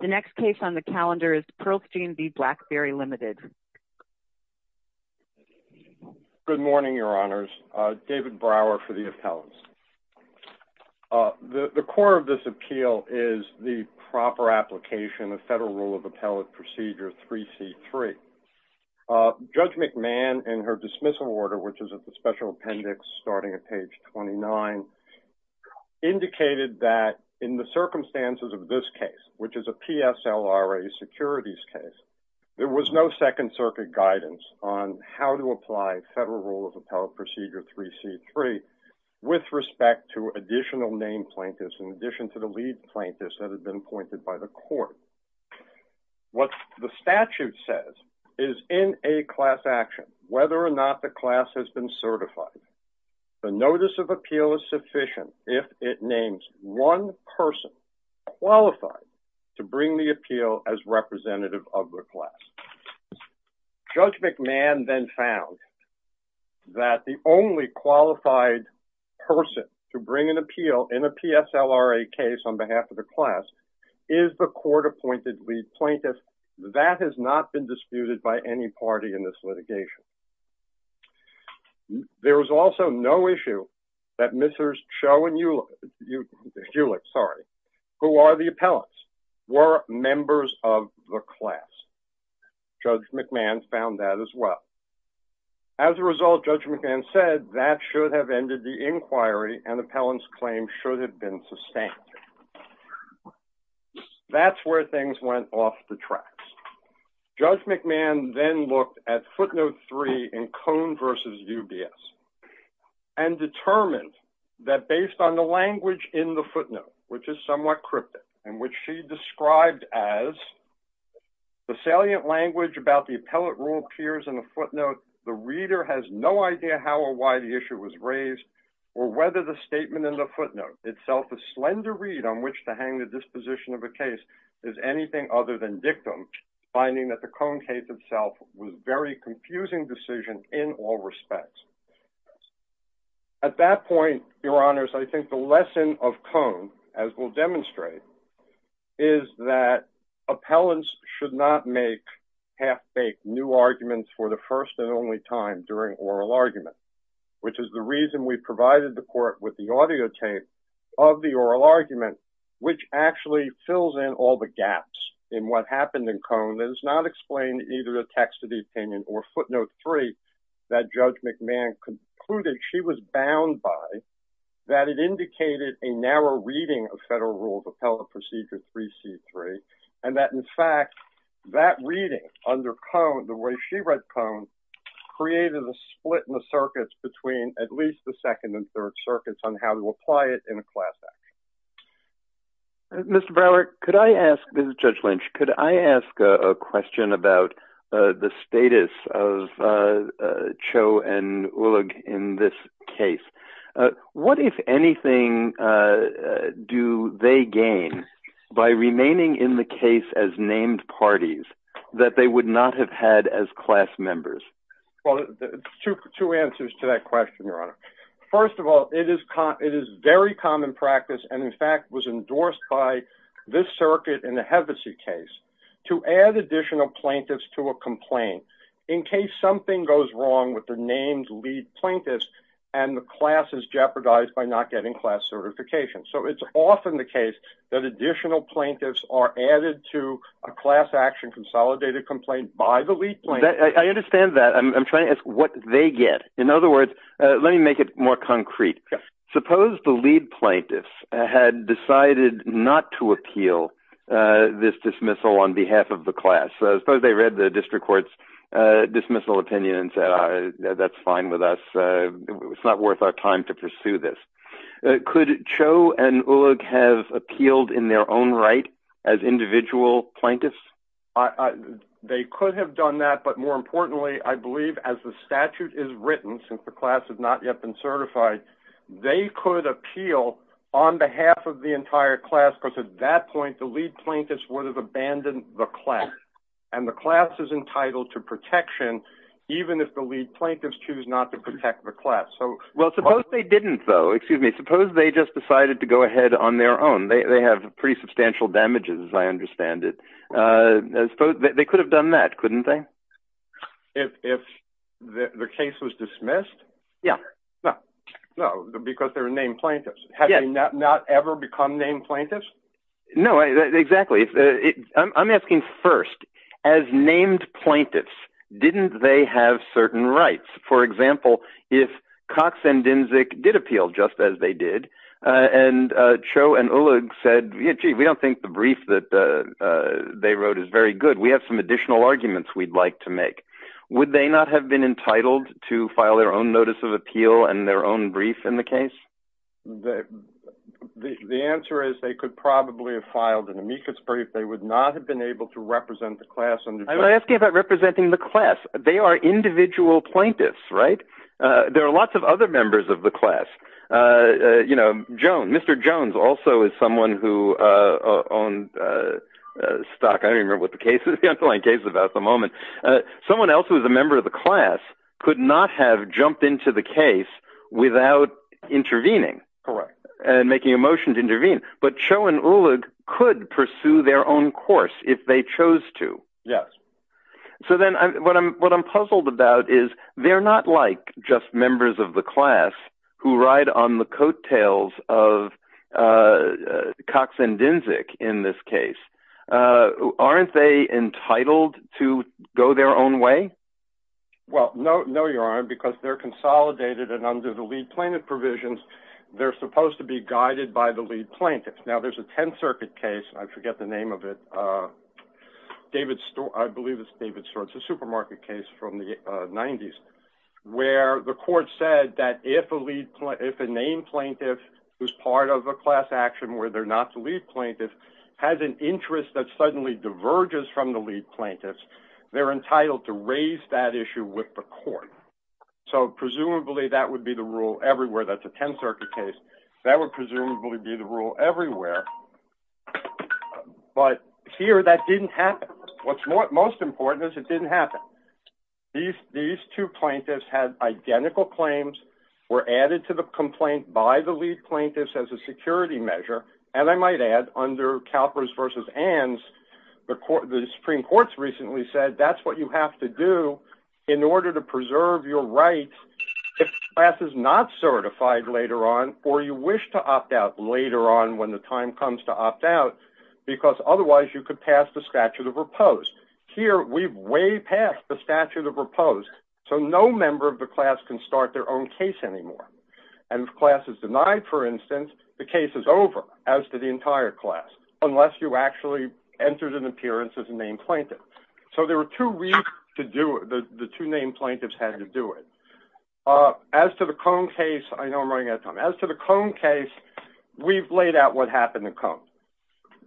The next case on the calendar is Pearlstein v. Blackberry Limited. Good morning, Your Honors. David Brower for the appellants. The core of this appeal is the proper application of Federal Rule of Appellate Procedure 3C.3. Judge McMahon, in her dismissal order, which is at the special appendix starting at page 29, indicated that in the circumstances of this case, which is a PSLRA securities case, there was no Second Circuit guidance on how to apply Federal Rule of Appellate Procedure 3C.3 with respect to additional named plaintiffs in addition to the lead plaintiffs that had been appointed by the court. What the statute says is in a class action, whether or not the class has been certified, the notice of appeal is sufficient if it names one person qualified to bring the appeal as representative of the class. Judge McMahon then found that the only qualified person to bring an appeal in a PSLRA case on behalf of the class is the court-appointed lead plaintiff. That has not been disputed by any party in this litigation. There was also no issue that Mrs. Cho and Eulich, who are the appellants, were members of the class. Judge McMahon found that as well. As a result, Judge McMahon said that should have ended the inquiry and appellant's claim should have been sustained. That's where things went off the tracks. Judge McMahon then looked at Footnote 3 in Cone v. UBS and determined that based on the language in the footnote, which is somewhat cryptic, in which she described as, the salient language about the appellate rule appears in the footnote. The reader has no idea how or why the issue was raised or whether the statement in the footnote, itself a slender read on which to hang the disposition of a case, is anything other than dictum, finding that the Cone case, itself, was a very confusing decision in all respects. At that point, your honors, I think the lesson of Cone, as we'll demonstrate, is that appellants should not make half-baked new arguments for the first and only time during oral arguments, which is the reason we provided the court with the audio tape of the oral argument, which actually fills in all the gaps in what happened in Cone. It does not explain either the text of the opinion or Footnote 3 that Judge McMahon concluded she was bound by, that it indicated a narrow reading of Federal Rule of Appellant Procedure 3C3, and that, in fact, that reading under Cone, the way she read Cone, created a split in the circuits between at least the second and third circuits on how to apply it in a class act. Mr. Broward, could I ask, this is Judge Lynch, could I ask a question about the status of Cho and Ullig in this case? What, if anything, do they gain by remaining in the case as named parties that they would not have had as class members? Well, two answers to that question, your honor. First of all, it is very common practice, and in fact was endorsed by this circuit in the Hevesy case, to add additional plaintiffs to a complaint in case something goes wrong with the named lead plaintiffs and the class is jeopardized by not getting class certification. So it's often the case that additional plaintiffs are added to a class action consolidated complaint by the lead plaintiffs. I understand that. I'm trying to ask what they get. In other words, let me make it more concrete. Suppose the lead plaintiffs had decided not to appeal this dismissal on behalf of the class. Suppose they read the district court's dismissal opinion and said, that's fine with us. It's not worth our time to pursue this. Could Cho and Ullig have appealed in their own right as individual plaintiffs? They could have done that. But more importantly, I believe as the statute is written, since the class has not yet been certified, they could appeal on behalf of the entire class because at that point the lead plaintiffs would have abandoned the class. And the class is entitled to protection even if the lead plaintiffs choose not to protect the class. Well, suppose they didn't, though. Excuse me, suppose they just decided to go ahead on their own. They have pretty substantial damages, I understand it. They could have done that, couldn't they? If the case was dismissed? Yeah. No, because they're named plaintiffs. Have they not ever become named plaintiffs? No, exactly. I'm asking first, as named plaintiffs, didn't they have certain rights? For example, if Cox and Dinzic did appeal, just as they did, and Cho and Ullig said, gee, we don't think the brief that they wrote is very good. We have some additional arguments we'd like to make. Would they not have been entitled to file their own notice of appeal and their own brief in the case? The answer is they could probably have filed an amicus brief. They would not have been able to represent the class. I'm asking about representing the class. They are individual plaintiffs, right? There are lots of other members of the class. Mr. Jones also is someone who owned stock. I don't remember what the case is. Someone else who was a member of the class could not have jumped into the case without intervening and making a motion to intervene. But Cho and Ullig could pursue their own course if they chose to. Yes. So then what I'm puzzled about is they're not like just members of the class who ride on the coattails of Cox and Dinzic in this case. Aren't they entitled to go their own way? Well, no, you aren't, because they're consolidated and under the lead plaintiff provisions. They're supposed to be guided by the lead plaintiff. Now, there's a Tenth Circuit case. I forget the name of it. I believe it's David Stewart. It's a supermarket case from the 90s where the court said that if a named plaintiff who's part of a class action where they're not the lead plaintiff has an interest that suddenly diverges from the lead plaintiffs, they're entitled to raise that issue with the court. So presumably that would be the rule everywhere. That's a Tenth Circuit case. That would presumably be the rule everywhere. But here that didn't happen. What's most important is it didn't happen. These two plaintiffs had identical claims, were added to the complaint by the lead plaintiffs as a security measure, and I might add, under CalPERS v. ANZ, the Supreme Court's recently said that's what you have to do in order to preserve your rights if the class is not certified later on or you wish to opt out later on when the time comes. You have to wait until the time comes to opt out because otherwise you could pass the statute of repose. Here we've way passed the statute of repose, so no member of the class can start their own case anymore. And if class is denied, for instance, the case is over, as did the entire class, unless you actually entered an appearance as a named plaintiff. So there were two reasons to do it. The two named plaintiffs had to do it. As to the Cone case, I know I'm running out of time. As to the Cone case, we've laid out what happened to Cone.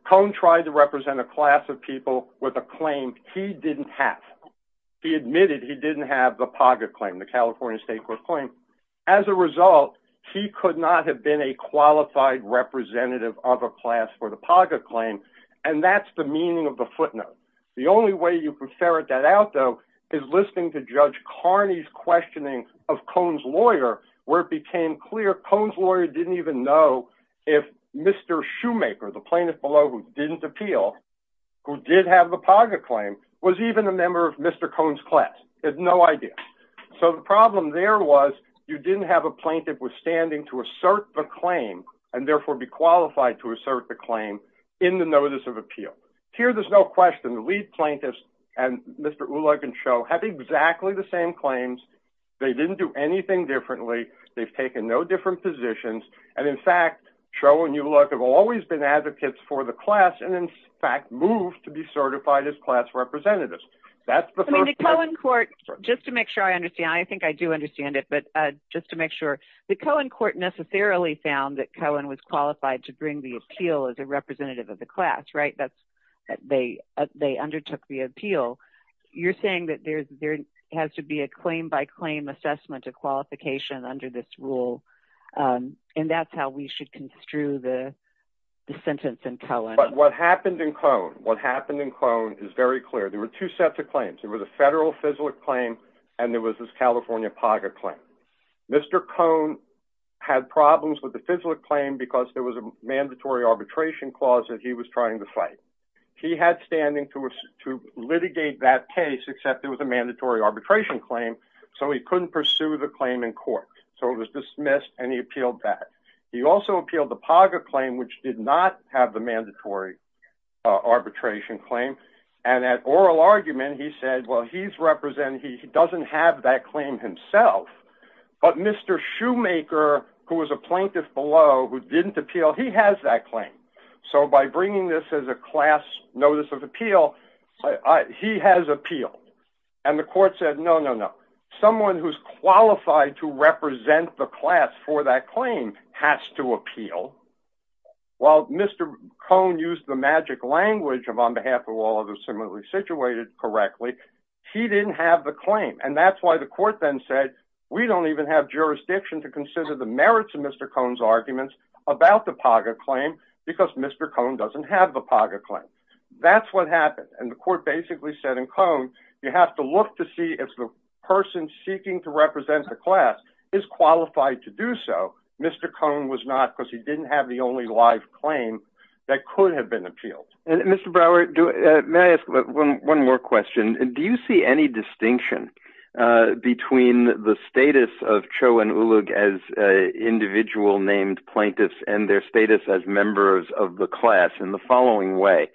Cone tried to represent a class of people with a claim he didn't have. He admitted he didn't have the POGA claim, the California State Court claim. As a result, he could not have been a qualified representative of a class for the POGA claim, and that's the meaning of the footnote. The only way you can ferret that out, though, is listening to Judge Carney's questioning of Cone's lawyer, where it became clear Cone's lawyer didn't even know if Mr. Shoemaker, the plaintiff below who didn't appeal, who did have the POGA claim, was even a member of Mr. Cone's class. He had no idea. So the problem there was you didn't have a plaintiff withstanding to assert the claim, and therefore be qualified to assert the claim in the notice of appeal. Here, there's no question. The lead plaintiffs and Mr. Ulog and Sho have exactly the same claims. They didn't do anything differently. They've taken no different positions, and in fact, Sho and Ulog have always been advocates for the class and, in fact, moved to be certified as class representatives. That's the first step. I mean, the Cone court, just to make sure I understand, I think I do understand it, but just to make sure, the Cone court necessarily found that Cone was qualified to bring the appeal as a representative of the class, right? They undertook the appeal. You're saying that there has to be a claim-by-claim assessment of qualification under this rule, and that's how we should construe the sentence in Cohen. But what happened in Cone, what happened in Cone is very clear. There were two sets of claims. There was a federal FISLIC claim, and there was this California POGA claim. Mr. Cone had problems with the FISLIC claim because there was a mandatory arbitration clause that he was trying to fight. He had standing to litigate that case, except there was a mandatory arbitration claim, so he couldn't pursue the claim in court. So it was dismissed, and he appealed that. He also appealed the POGA claim, which did not have the mandatory arbitration claim, and that oral argument, he said, well, he doesn't have that claim himself, but Mr. Shoemaker, who was a plaintiff below, who didn't appeal, he has that claim. So by bringing this as a class notice of appeal, he has appealed. And the court said, no, no, no. Someone who's qualified to represent the class for that claim has to appeal. While Mr. Cone used the magic language of on behalf of all others similarly situated correctly, he didn't have the claim, and that's why the court then said, we don't even have jurisdiction to consider the merits of Mr. Cone's arguments about the POGA claim because Mr. Cone doesn't have the POGA claim. That's what happened, and the court basically said in Cone, you have to look to see if the person seeking to represent the class is qualified to do so. Mr. Cone was not because he didn't have the only live claim that could have been appealed. And Mr. Brower, may I ask one more question? Do you see any distinction between the status of Cho and Ulug as individual named plaintiffs and their status as members of the class in the following way?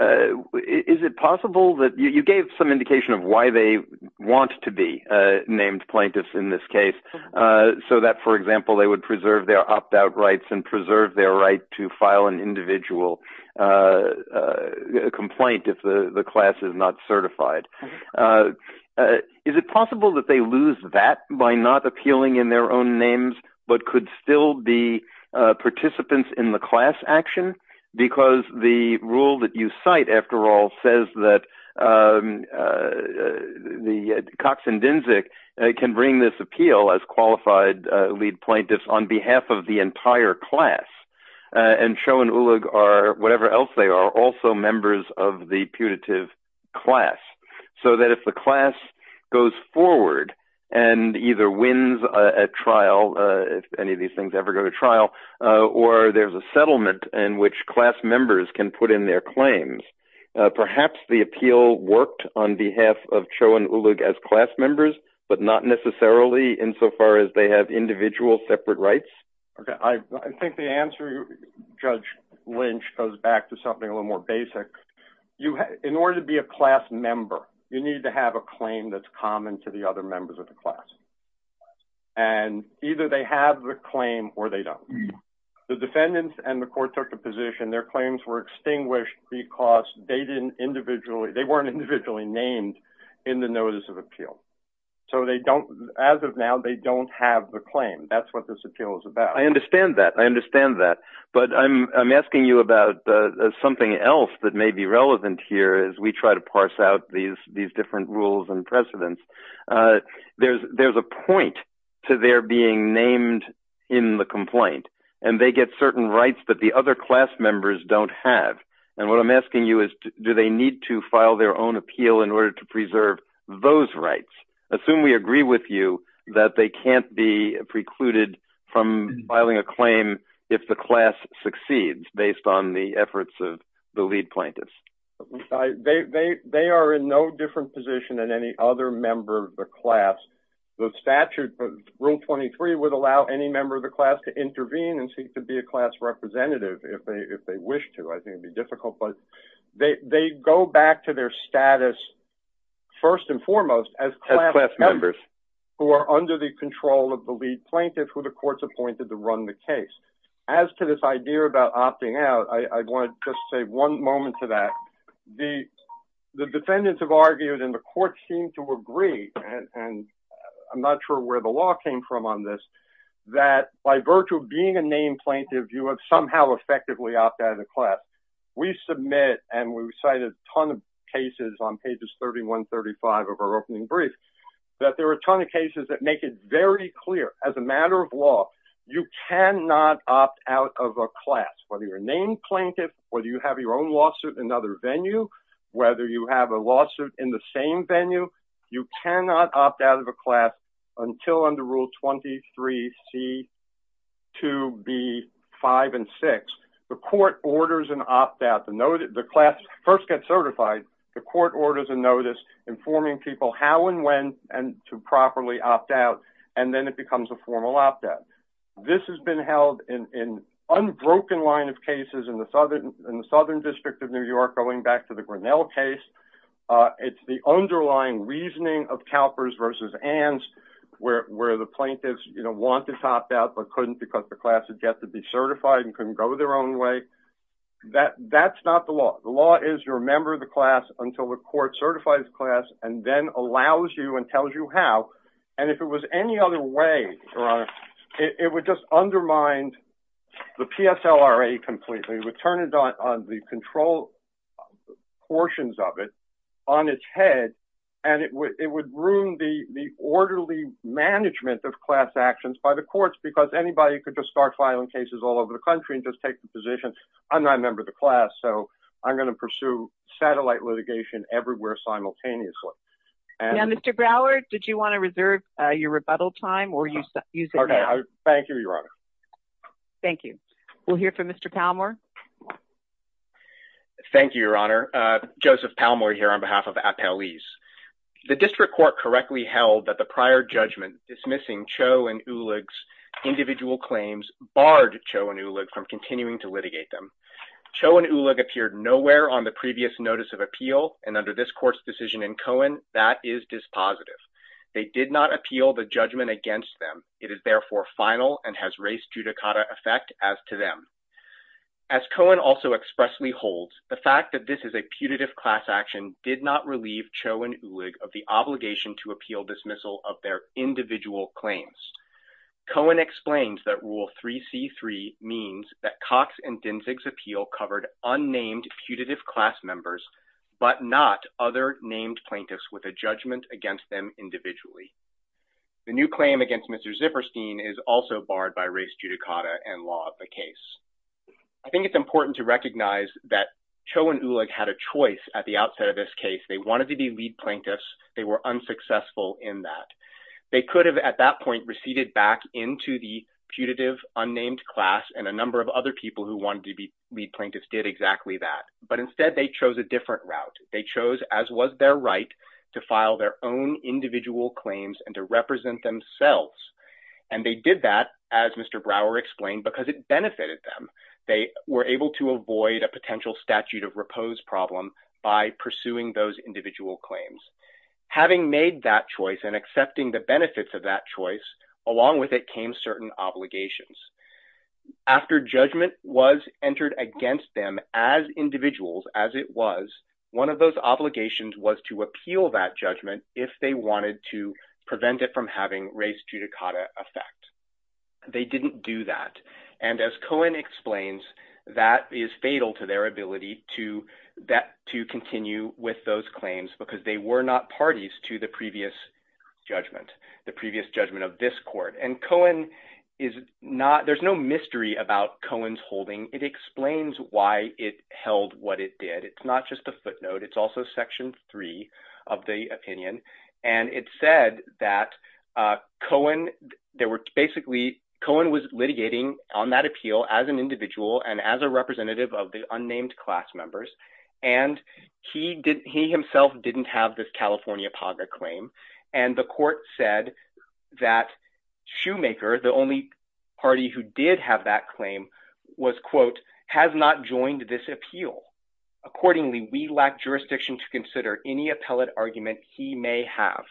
Is it possible that you gave some indication of why they want to be named plaintiffs in this case, so that, for example, they would preserve their opt-out rights and preserve their right to file an individual complaint if the class is not certified. Is it possible that they lose that by not appealing in their own names but could still be participants in the class action? Because the rule that you cite, after all, says that Cox and Dynzik can bring this appeal as qualified lead plaintiffs on behalf of the entire class. And Cho and Ulug are, whatever else they are, also members of the putative class. So that if the class goes forward and either wins a trial, if any of these things ever go to trial, or there's a settlement in which class members can put in their claims, perhaps the appeal worked on behalf of Cho and Ulug as class members, but not necessarily insofar as they have individual separate rights? I think the answer, Judge Lynch, goes back to something a little more basic. In order to be a class member, you need to have a claim that's common to the other members of the class. And either they have the claim or they don't. The defendants and the court took the position their claims were extinguished because they weren't individually named in the notice of appeal. So as of now, they don't have the claim. That's what this appeal is about. I understand that. I understand that. But I'm asking you about something else that may be relevant here as we try to parse out these different rules and precedents. There's a point to their being named in the complaint. And they get certain rights that the other class members don't have. And what I'm asking you is, do they need to file their own appeal in order to preserve those rights? Assume we agree with you that they can't be precluded from filing a claim if the class succeeds based on the efforts of the lead plaintiff. They are in no different position than any other member of the class. The statute, Rule 23, would allow any member of the class to intervene and seek to be a class representative if they wish to. I think it would be difficult. But they go back to their status, first and foremost, as class members who are under the control of the lead plaintiff who the court's appointed to run the case. As to this idea about opting out, I want to just say one moment to that. The defendants have argued, and the courts seem to agree, and I'm not sure where the law came from on this, that by virtue of being a named plaintiff, you have somehow effectively opted out of the class. I must admit, and we've cited a ton of cases on pages 31, 35 of our opening brief, that there are a ton of cases that make it very clear, as a matter of law, you cannot opt out of a class. Whether you're a named plaintiff, whether you have your own lawsuit in another venue, whether you have a lawsuit in the same venue, you cannot opt out of a class until under Rule 23, C, 2, B, 5, and 6. The court orders an opt-out. The class first gets certified. The court orders a notice informing people how and when to properly opt out, and then it becomes a formal opt-out. This has been held in an unbroken line of cases in the Southern District of New York, going back to the Grinnell case. It's the underlying reasoning of CalPERS versus ANZ, where the plaintiffs want to opt out but couldn't because the class had yet to be certified in its own way. That's not the law. The law is you're a member of the class until the court certifies the class and then allows you and tells you how, and if it was any other way, Your Honor, it would just undermine the PSLRA completely. It would turn the control portions of it on its head, and it would ruin the orderly management of class actions by the courts because anybody could just start filing cases all over the country and just take the position, I'm not a member of the class, so I'm going to pursue satellite litigation everywhere simultaneously. Now, Mr. Brower, did you want to reserve your rebuttal time or use it now? Okay, thank you, Your Honor. Thank you. We'll hear from Mr. Palmore. Thank you, Your Honor. Joseph Palmore here on behalf of Appellees. The District Court correctly held that the prior judgment dismissing Cho and Uligs individual claims barred Cho and Ulig from continuing to litigate them. Cho and Ulig appeared nowhere on the previous notice of appeal, and under this court's decision in Cohen, that is dispositive. They did not appeal the judgment against them. It is therefore final and has race judicata effect as to them. As Cohen also expressly holds, the fact that this is a putative class action did not relieve Cho and Ulig of the obligation to appeal dismissal of their individual claims. Cohen explains that Rule 3C.3 means that Cox and Dinsig's appeal covered unnamed putative class members, but not other named plaintiffs with a judgment against them individually. The new claim against Mr. Zipperstein is also barred by race judicata and law of the case. I think it's important to recognize that Cho and Ulig had a choice at the outset of this case. They wanted to be lead plaintiffs. They were unsuccessful in that. They could have at that point receded back into the putative unnamed class and a number of other people who wanted to be lead plaintiffs did exactly that. But instead, they chose a different route. They chose, as was their right, to file their own individual claims and to represent themselves. And they did that, as Mr. Brower explained, because it benefited them. They were able to avoid a potential statute of repose problem by pursuing those individual claims. Having made that choice and accepting the benefits of that choice, along with it came certain obligations. After judgment was entered against them as individuals, as it was, one of those obligations was to appeal that judgment if they wanted to prevent it from having race judicata effect. They didn't do that. And as Cohen explains, that is fatal to their ability to continue with those claims because they were not parties to the previous judgment, the previous judgment of this court. And Cohen is not, there's no mystery about Cohen's holding. It explains why it held what it did. It's not just a footnote. It's also Section 3 of the opinion. And it said that Cohen, there were basically, Cohen was litigating on that appeal as an individual and as a representative of the unnamed class members. And he himself didn't have this California PAGA claim. And the court said that Shoemaker, the only party who did have that claim, was, quote, has not joined this appeal. Accordingly, we lack jurisdiction to consider any appellate argument he may have.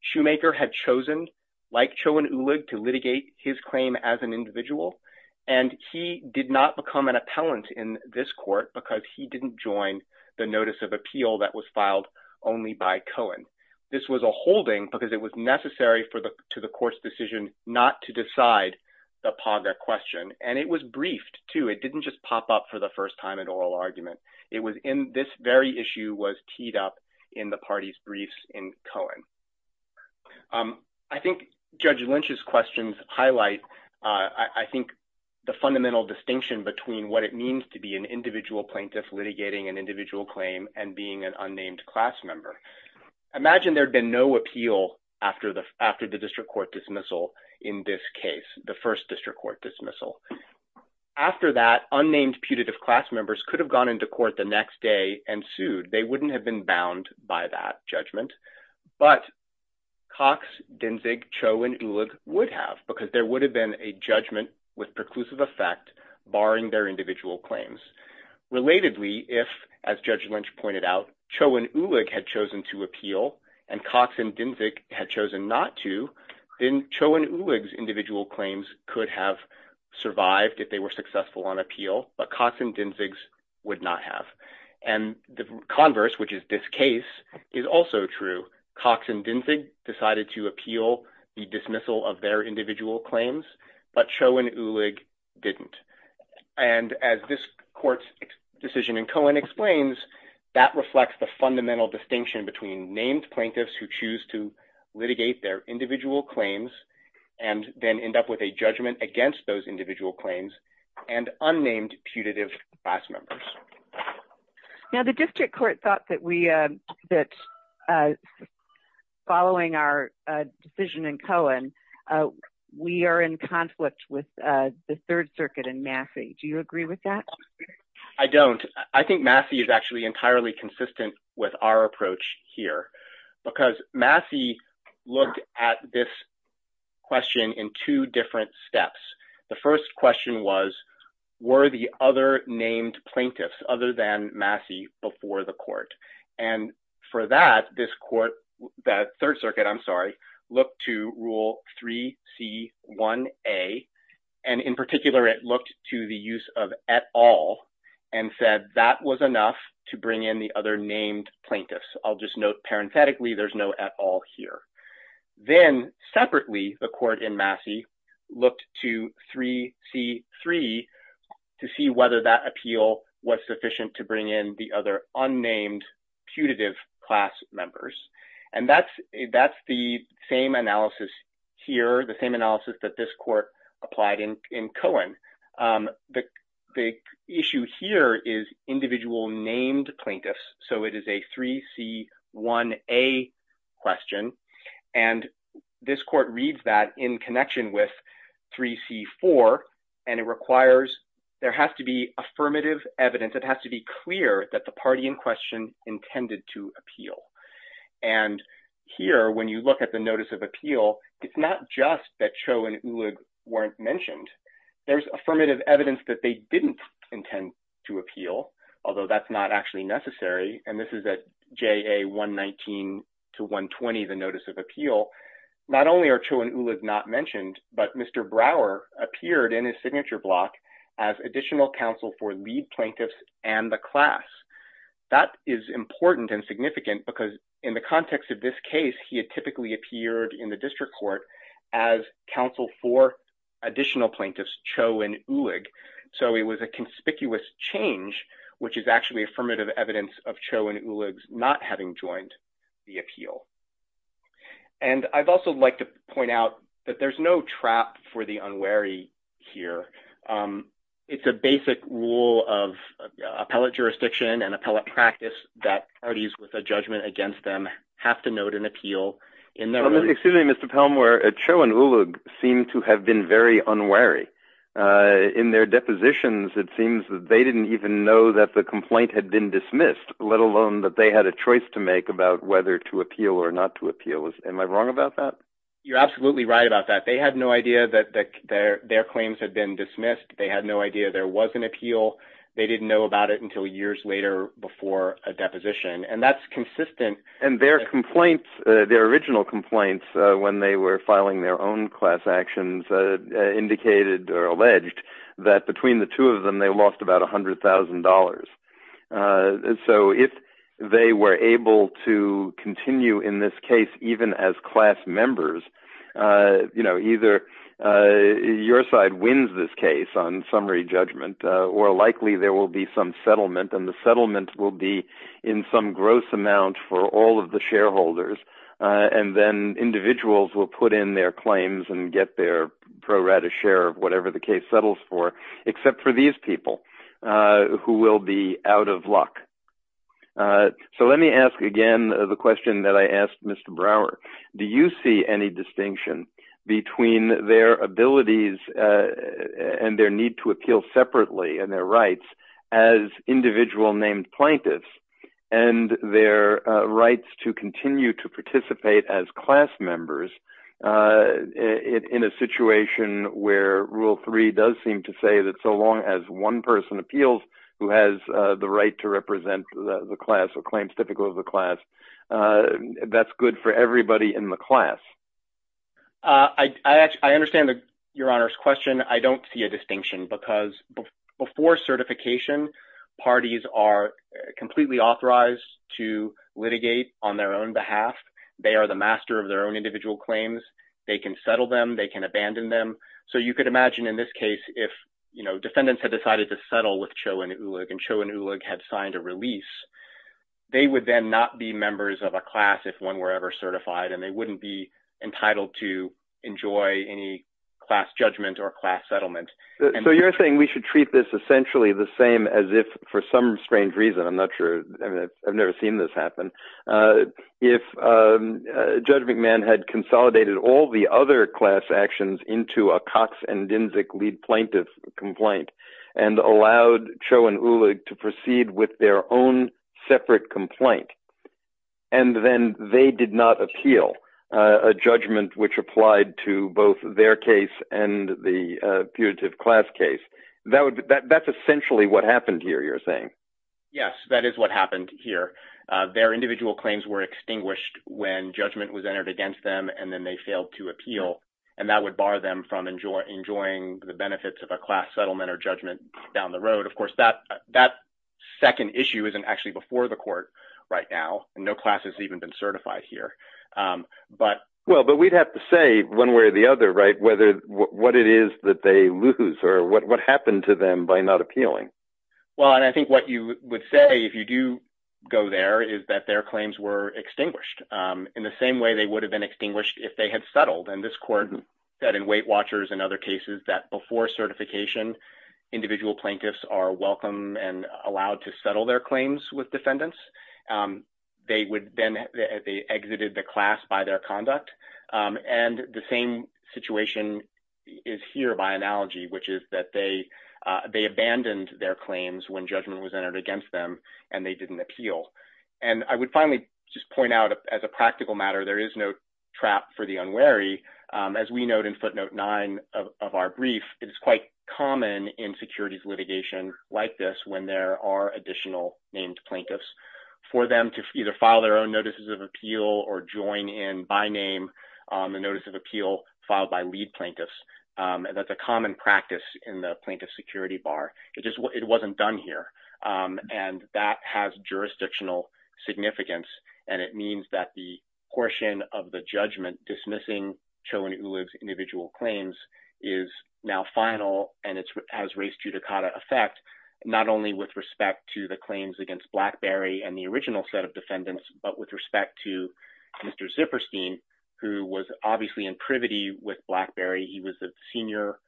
Shoemaker had chosen, like Cho and Ulig, to litigate his claim as an individual. And he did not become an appellant in this court because he didn't join the notice of appeal that was filed only by Cohen. This was a holding because it was necessary to the court's decision not to decide the PAGA question. And it was briefed, too. It didn't just pop up for the first time in oral argument. It was in, this very issue was teed up in the party's briefs in Cohen. I think Judge Lynch's questions highlight, I think, the fundamental distinction between what it means to be an individual plaintiff litigating an individual claim and being an unnamed class member. Imagine there'd been no appeal after the district court dismissal in this case, the first district court dismissal. After that, unnamed putative class members could have gone into court the next day and sued. They wouldn't have been bound by that judgment. But Cox, Dinsig, Cho, and Ulig would have because there would have been a judgment with preclusive effect barring their individual claims. Relatedly, if, as Judge Lynch pointed out, Cho and Ulig had chosen to appeal and Cox and Dinsig had chosen not to, then Cho and Ulig's individual claims could have survived if they were successful on appeal. But Cox and Dinsig's would not have. And the converse, which is this case, is also true. Cox and Dinsig decided to appeal the dismissal of their individual claims, but Cho and Ulig didn't. And as this court's decision in Cohen explains, that reflects the fundamental distinction between named plaintiffs who choose to litigate their individual claims and then end up with a judgment against those individual claims and unnamed putative class members. Now, the district court thought that we, that following our decision in Cohen, we are in conflict with the Third Circuit and Massey. Do you agree with that? I don't. I think Massey is actually entirely consistent with our approach here because Massey looked at this question in two different steps. The first question was, were the other named plaintiffs other than Massey before the court? And for that, this court, that Third Circuit, I'm sorry, looked to rule 3C1A. And in particular, it looked to the use of at all and said that was enough to bring in the other named plaintiffs. I'll just note parenthetically, there's no at all here. Then separately, the court in Massey looked to 3C3 to see whether that appeal was sufficient to bring in the other unnamed putative class members. And that's the same analysis here, the same analysis that this court applied in Cohen. The issue here is individual named plaintiffs. So it is a 3C1A question. And this court reads that in connection with 3C4. And it requires, there has to be affirmative evidence. And here, when you look at the notice of appeal, it's not just that Cho and Ullig weren't mentioned. There's affirmative evidence that they didn't intend to appeal, although that's not actually necessary. And this is at JA119 to 120, the notice of appeal. Not only are Cho and Ullig not mentioned, but Mr. Brower appeared in his signature block as additional counsel for lead plaintiffs and the class. That is important and significant because in the context of this case, he had typically appeared in the district court as counsel for additional plaintiffs, Cho and Ullig. So it was a conspicuous change, which is actually affirmative evidence of Cho and Ullig not having joined the appeal. And I'd also like to point out that there's no trap for the unwary here. It's a basic rule of appellate jurisdiction and appellate practice that parties with a judgment against them have to note an appeal in their ruling. Excuse me, Mr. Palmore, Cho and Ullig seem to have been very unwary. In their depositions, it seems that they didn't even know that the complaint had been dismissed, let alone that they had a choice to make about whether to appeal or not to appeal. Am I wrong about that? You're absolutely right about that. They had no idea that their claims had been dismissed. They had no idea there was an appeal. They didn't know about it until years later before a deposition. And that's consistent. And their original complaints when they were filing their own class actions indicated or alleged that between the two of them, they lost about $100,000. And so if they were able to continue in this case, even as class members, either your side wins this case on summary judgment or likely there will be some settlement. And the settlement will be in some gross amount for all of the shareholders. And then individuals will put in their claims and get their pro-rata share of whatever the case settles for, except for these people who will be out of luck. So let me ask again the question that I asked Mr. Brower. Do you see any distinction between their abilities and their need to appeal separately and their rights as individual named plaintiffs and their rights to continue to participate as class members in a situation where Rule 3 does seem to say that so long as one person appeals who has the right to represent the class or claims typical of the class, that's good for everybody in the class? I understand Your Honor's question. I don't see a distinction because before certification, parties are completely authorized to litigate on their own behalf. They are the master of their own individual claims. They can settle them. They can abandon them. So you could imagine in this case if defendants had decided to settle with Cho and Ulig and Cho and Ulig had signed a release, they would then not be members of a class if one were ever certified and they wouldn't be entitled to enjoy any class judgment or class settlement. So you're saying we should treat this essentially the same as if for some strange reason, I'm not sure, I've never seen this happen, if Judge McMahon had consolidated all the other class actions into a Cox and Dinzic lead plaintiff complaint and allowed Cho and Ulig to proceed with their own separate complaint and then they did not appeal a judgment which applied to both their case and the putative class case, that's essentially what happened here, you're saying? Yes, that is what happened here. Their individual claims were extinguished when judgment was entered against them and then they failed to appeal and that would bar them from enjoying the benefits of a class settlement or judgment down the road. Of course, that second issue isn't actually before the court right now and no class has even been certified here. Well, but we'd have to say one way or the other, right, what it is that they lose or what happened to them by not appealing. Well, and I think what you would say if you do go there is that their claims were extinguished in the same way they would have been extinguished if they had settled. And this court said in Weight Watchers and other cases that before certification individual plaintiffs are welcome and allowed to settle their claims with defendants, they would then, they exited the class by their conduct and the same situation is here by analogy, which is that they abandoned their claims when judgment was entered against them and they didn't appeal. And I would finally just point out as a practical matter, there is no trap for the unwary. As we note in footnote nine of our brief, it is quite common in securities litigation like this when there are additional named plaintiffs for them to either file their own notices of appeal or join in by name on the notice of appeal filed by lead plaintiffs. And that's a common practice in the plaintiff security bar. It just wasn't done here. And that has jurisdictional significance and it means that the portion of the judgment dismissing Cho and Ulib's individual claims is now final and it has race judicata effect not only with respect to the claims against BlackBerry and the original set of defendants, but with respect to Mr. Zipperstein who was obviously in privity with BlackBerry. He was a senior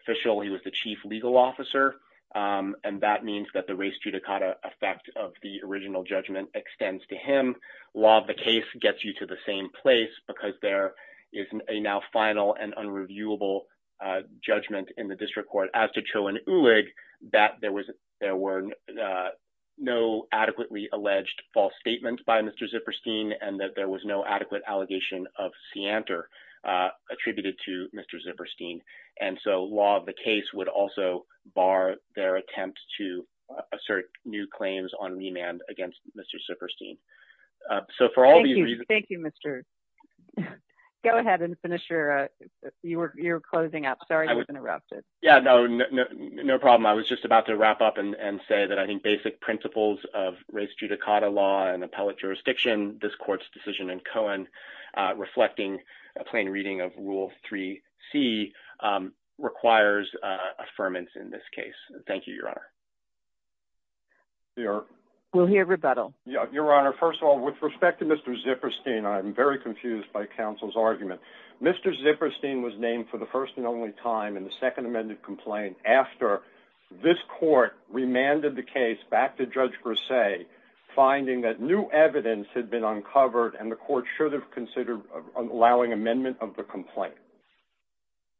official. He was the chief legal officer and that means that the race judicata effect of the original judgment extends to him. Law of the case gets you to the same place because there is a now final and unreviewable judgment in the district court as to Cho and Ulib that there were no adequately alleged false statements by Mr. Zipperstein and that there was no adequate allegation of seantor attributed to Mr. Zipperstein. And so law of the case would also bar their attempt to assert new claims on remand against Mr. Zipperstein. So for all these reasons... Thank you, Mr. Go ahead and finish your... You were closing up. Sorry, I was interrupted. Yeah, no problem. I was just about to wrap up and say that I think basic principles of race judicata law and appellate jurisdiction, this court's decision in Cohen reflecting a plain reading of Rule 3C requires affirmance in this case. Thank you, Your Honor. We'll hear rebuttal. Your Honor, first of all, with respect to Mr. Zipperstein, I'm very confused by counsel's argument. I think it was the first time in the second amended complaint after this court remanded the case back to Judge Grisey, finding that new evidence had been uncovered and the court should have considered allowing amendment of the complaint.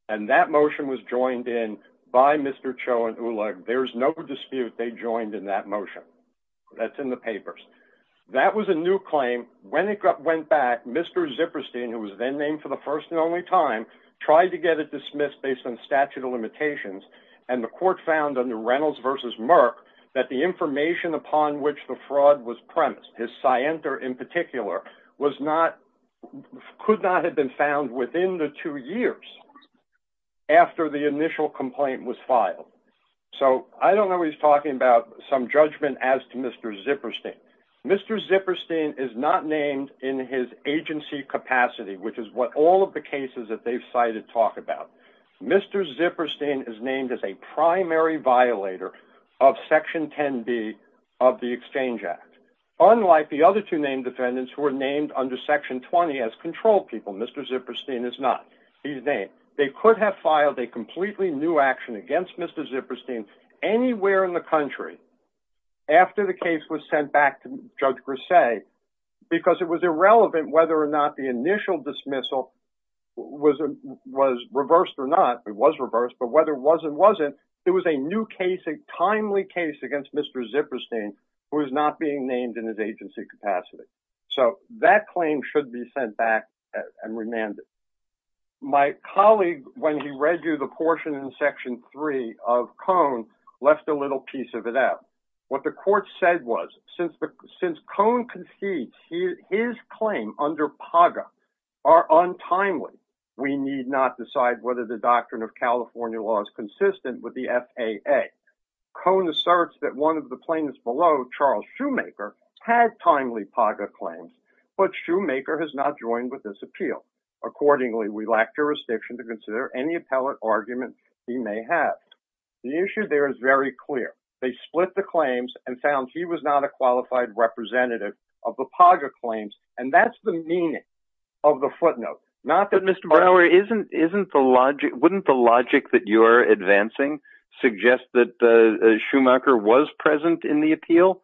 And that motion was joined in by Mr. Cho and Uleg. There's no dispute they joined in that motion. That's in the papers. That was a new claim. When it went back, Mr. Zipperstein, he was given statute of limitations and the court found under Reynolds v. Merck that the information upon which the fraud was premised, his scienter in particular, could not have been found within the two years after the initial complaint was filed. So I don't know he's talking about some judgment as to Mr. Zipperstein. Mr. Zipperstein is not named in his agency capacity, which is what all of the cases that they've cited talk about. Mr. Zipperstein is named as a primary violator of Section 10B of the Exchange Act. Unlike the other two named defendants who are named under Section 20 as control people, Mr. Zipperstein is not. They could have filed a completely new action against Mr. Zipperstein anywhere in the country after the case was sent back to Judge Grisey because it was irrelevant whether it was reversed but whether it was or wasn't, it was a new case, a timely case against Mr. Zipperstein who is not being named in his agency capacity. So that claim should be sent back and remanded. My colleague, when he read you the portion in Section 3 of Cone, left a little piece of it out. What the court said was since Cone concedes his claim under PAGA in California law is consistent with the FAA, Cone asserts that one of the plaintiffs below, Charles Shoemaker, had timely PAGA claims but Shoemaker has not joined with this appeal. Accordingly, we lack jurisdiction to consider any appellate argument he may have. The issue there is very clear. They split the claims and found he was not a qualified representative of the PAGA claims and that's the meaning of the footnote. Wouldn't the logic that you're advancing suggest that Shoemaker was present in the appeal?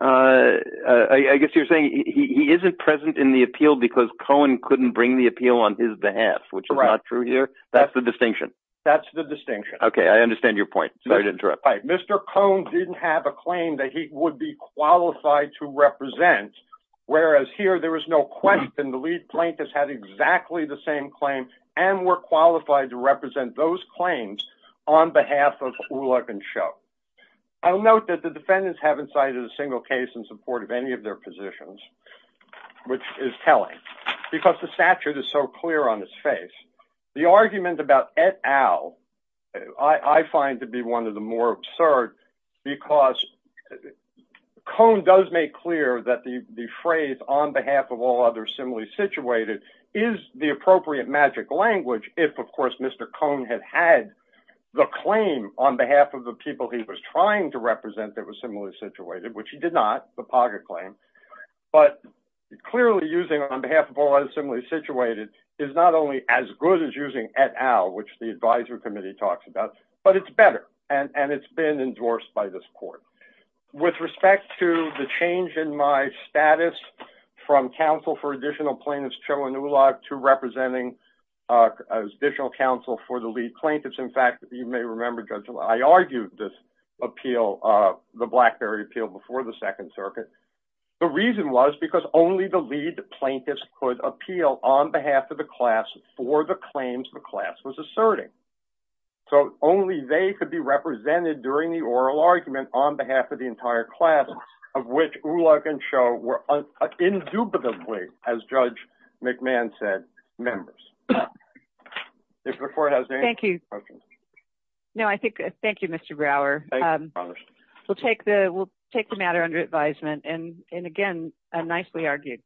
I guess you're saying he isn't present in the appeal because Cone couldn't bring the appeal on his behalf, which is not true here. That's the distinction. That's the distinction. Okay, I understand your point. Mr. Cone didn't have a claim that he would be qualified to represent whereas here there is no question the lead plaintiff had exactly the same claim and were qualified to represent those claims on behalf of Ulock and Sho. I'll note that the defendants haven't cited a single case in support of any of their positions, which is telling because the statute is so clear on its face. The argument about et al., I find to be one of the more absurd because Cone does make clear that the phrase on behalf of all others similarly situated is the appropriate magic language if, of course, Mr. Cone had had the claim on behalf of the people he was trying to represent that was similarly situated, which he did not, the Paga claim. But clearly using on behalf of all others similarly situated is not only as good as using et al., which the advisory committee talks about, but it's better and it's been endorsed by this court. With respect to the change in my status from counsel for additional plaintiffs, General Inouye, to representing additional counsel for the lead plaintiffs, in fact, you may remember, Judge, I argued this appeal, the BlackBerry appeal before the Second Circuit. The reason was because only the lead plaintiffs could appeal on behalf of the class for the claims the class was asserting. So only they could be represented during the oral argument on behalf of the entire class of which Ulock and Show were indubitably, as Judge McMahon said, members. If the court has any questions. Thank you. No, I think, thank you, Mr. Brower. We'll take the, we'll take the matter under advisement and again, nicely argued.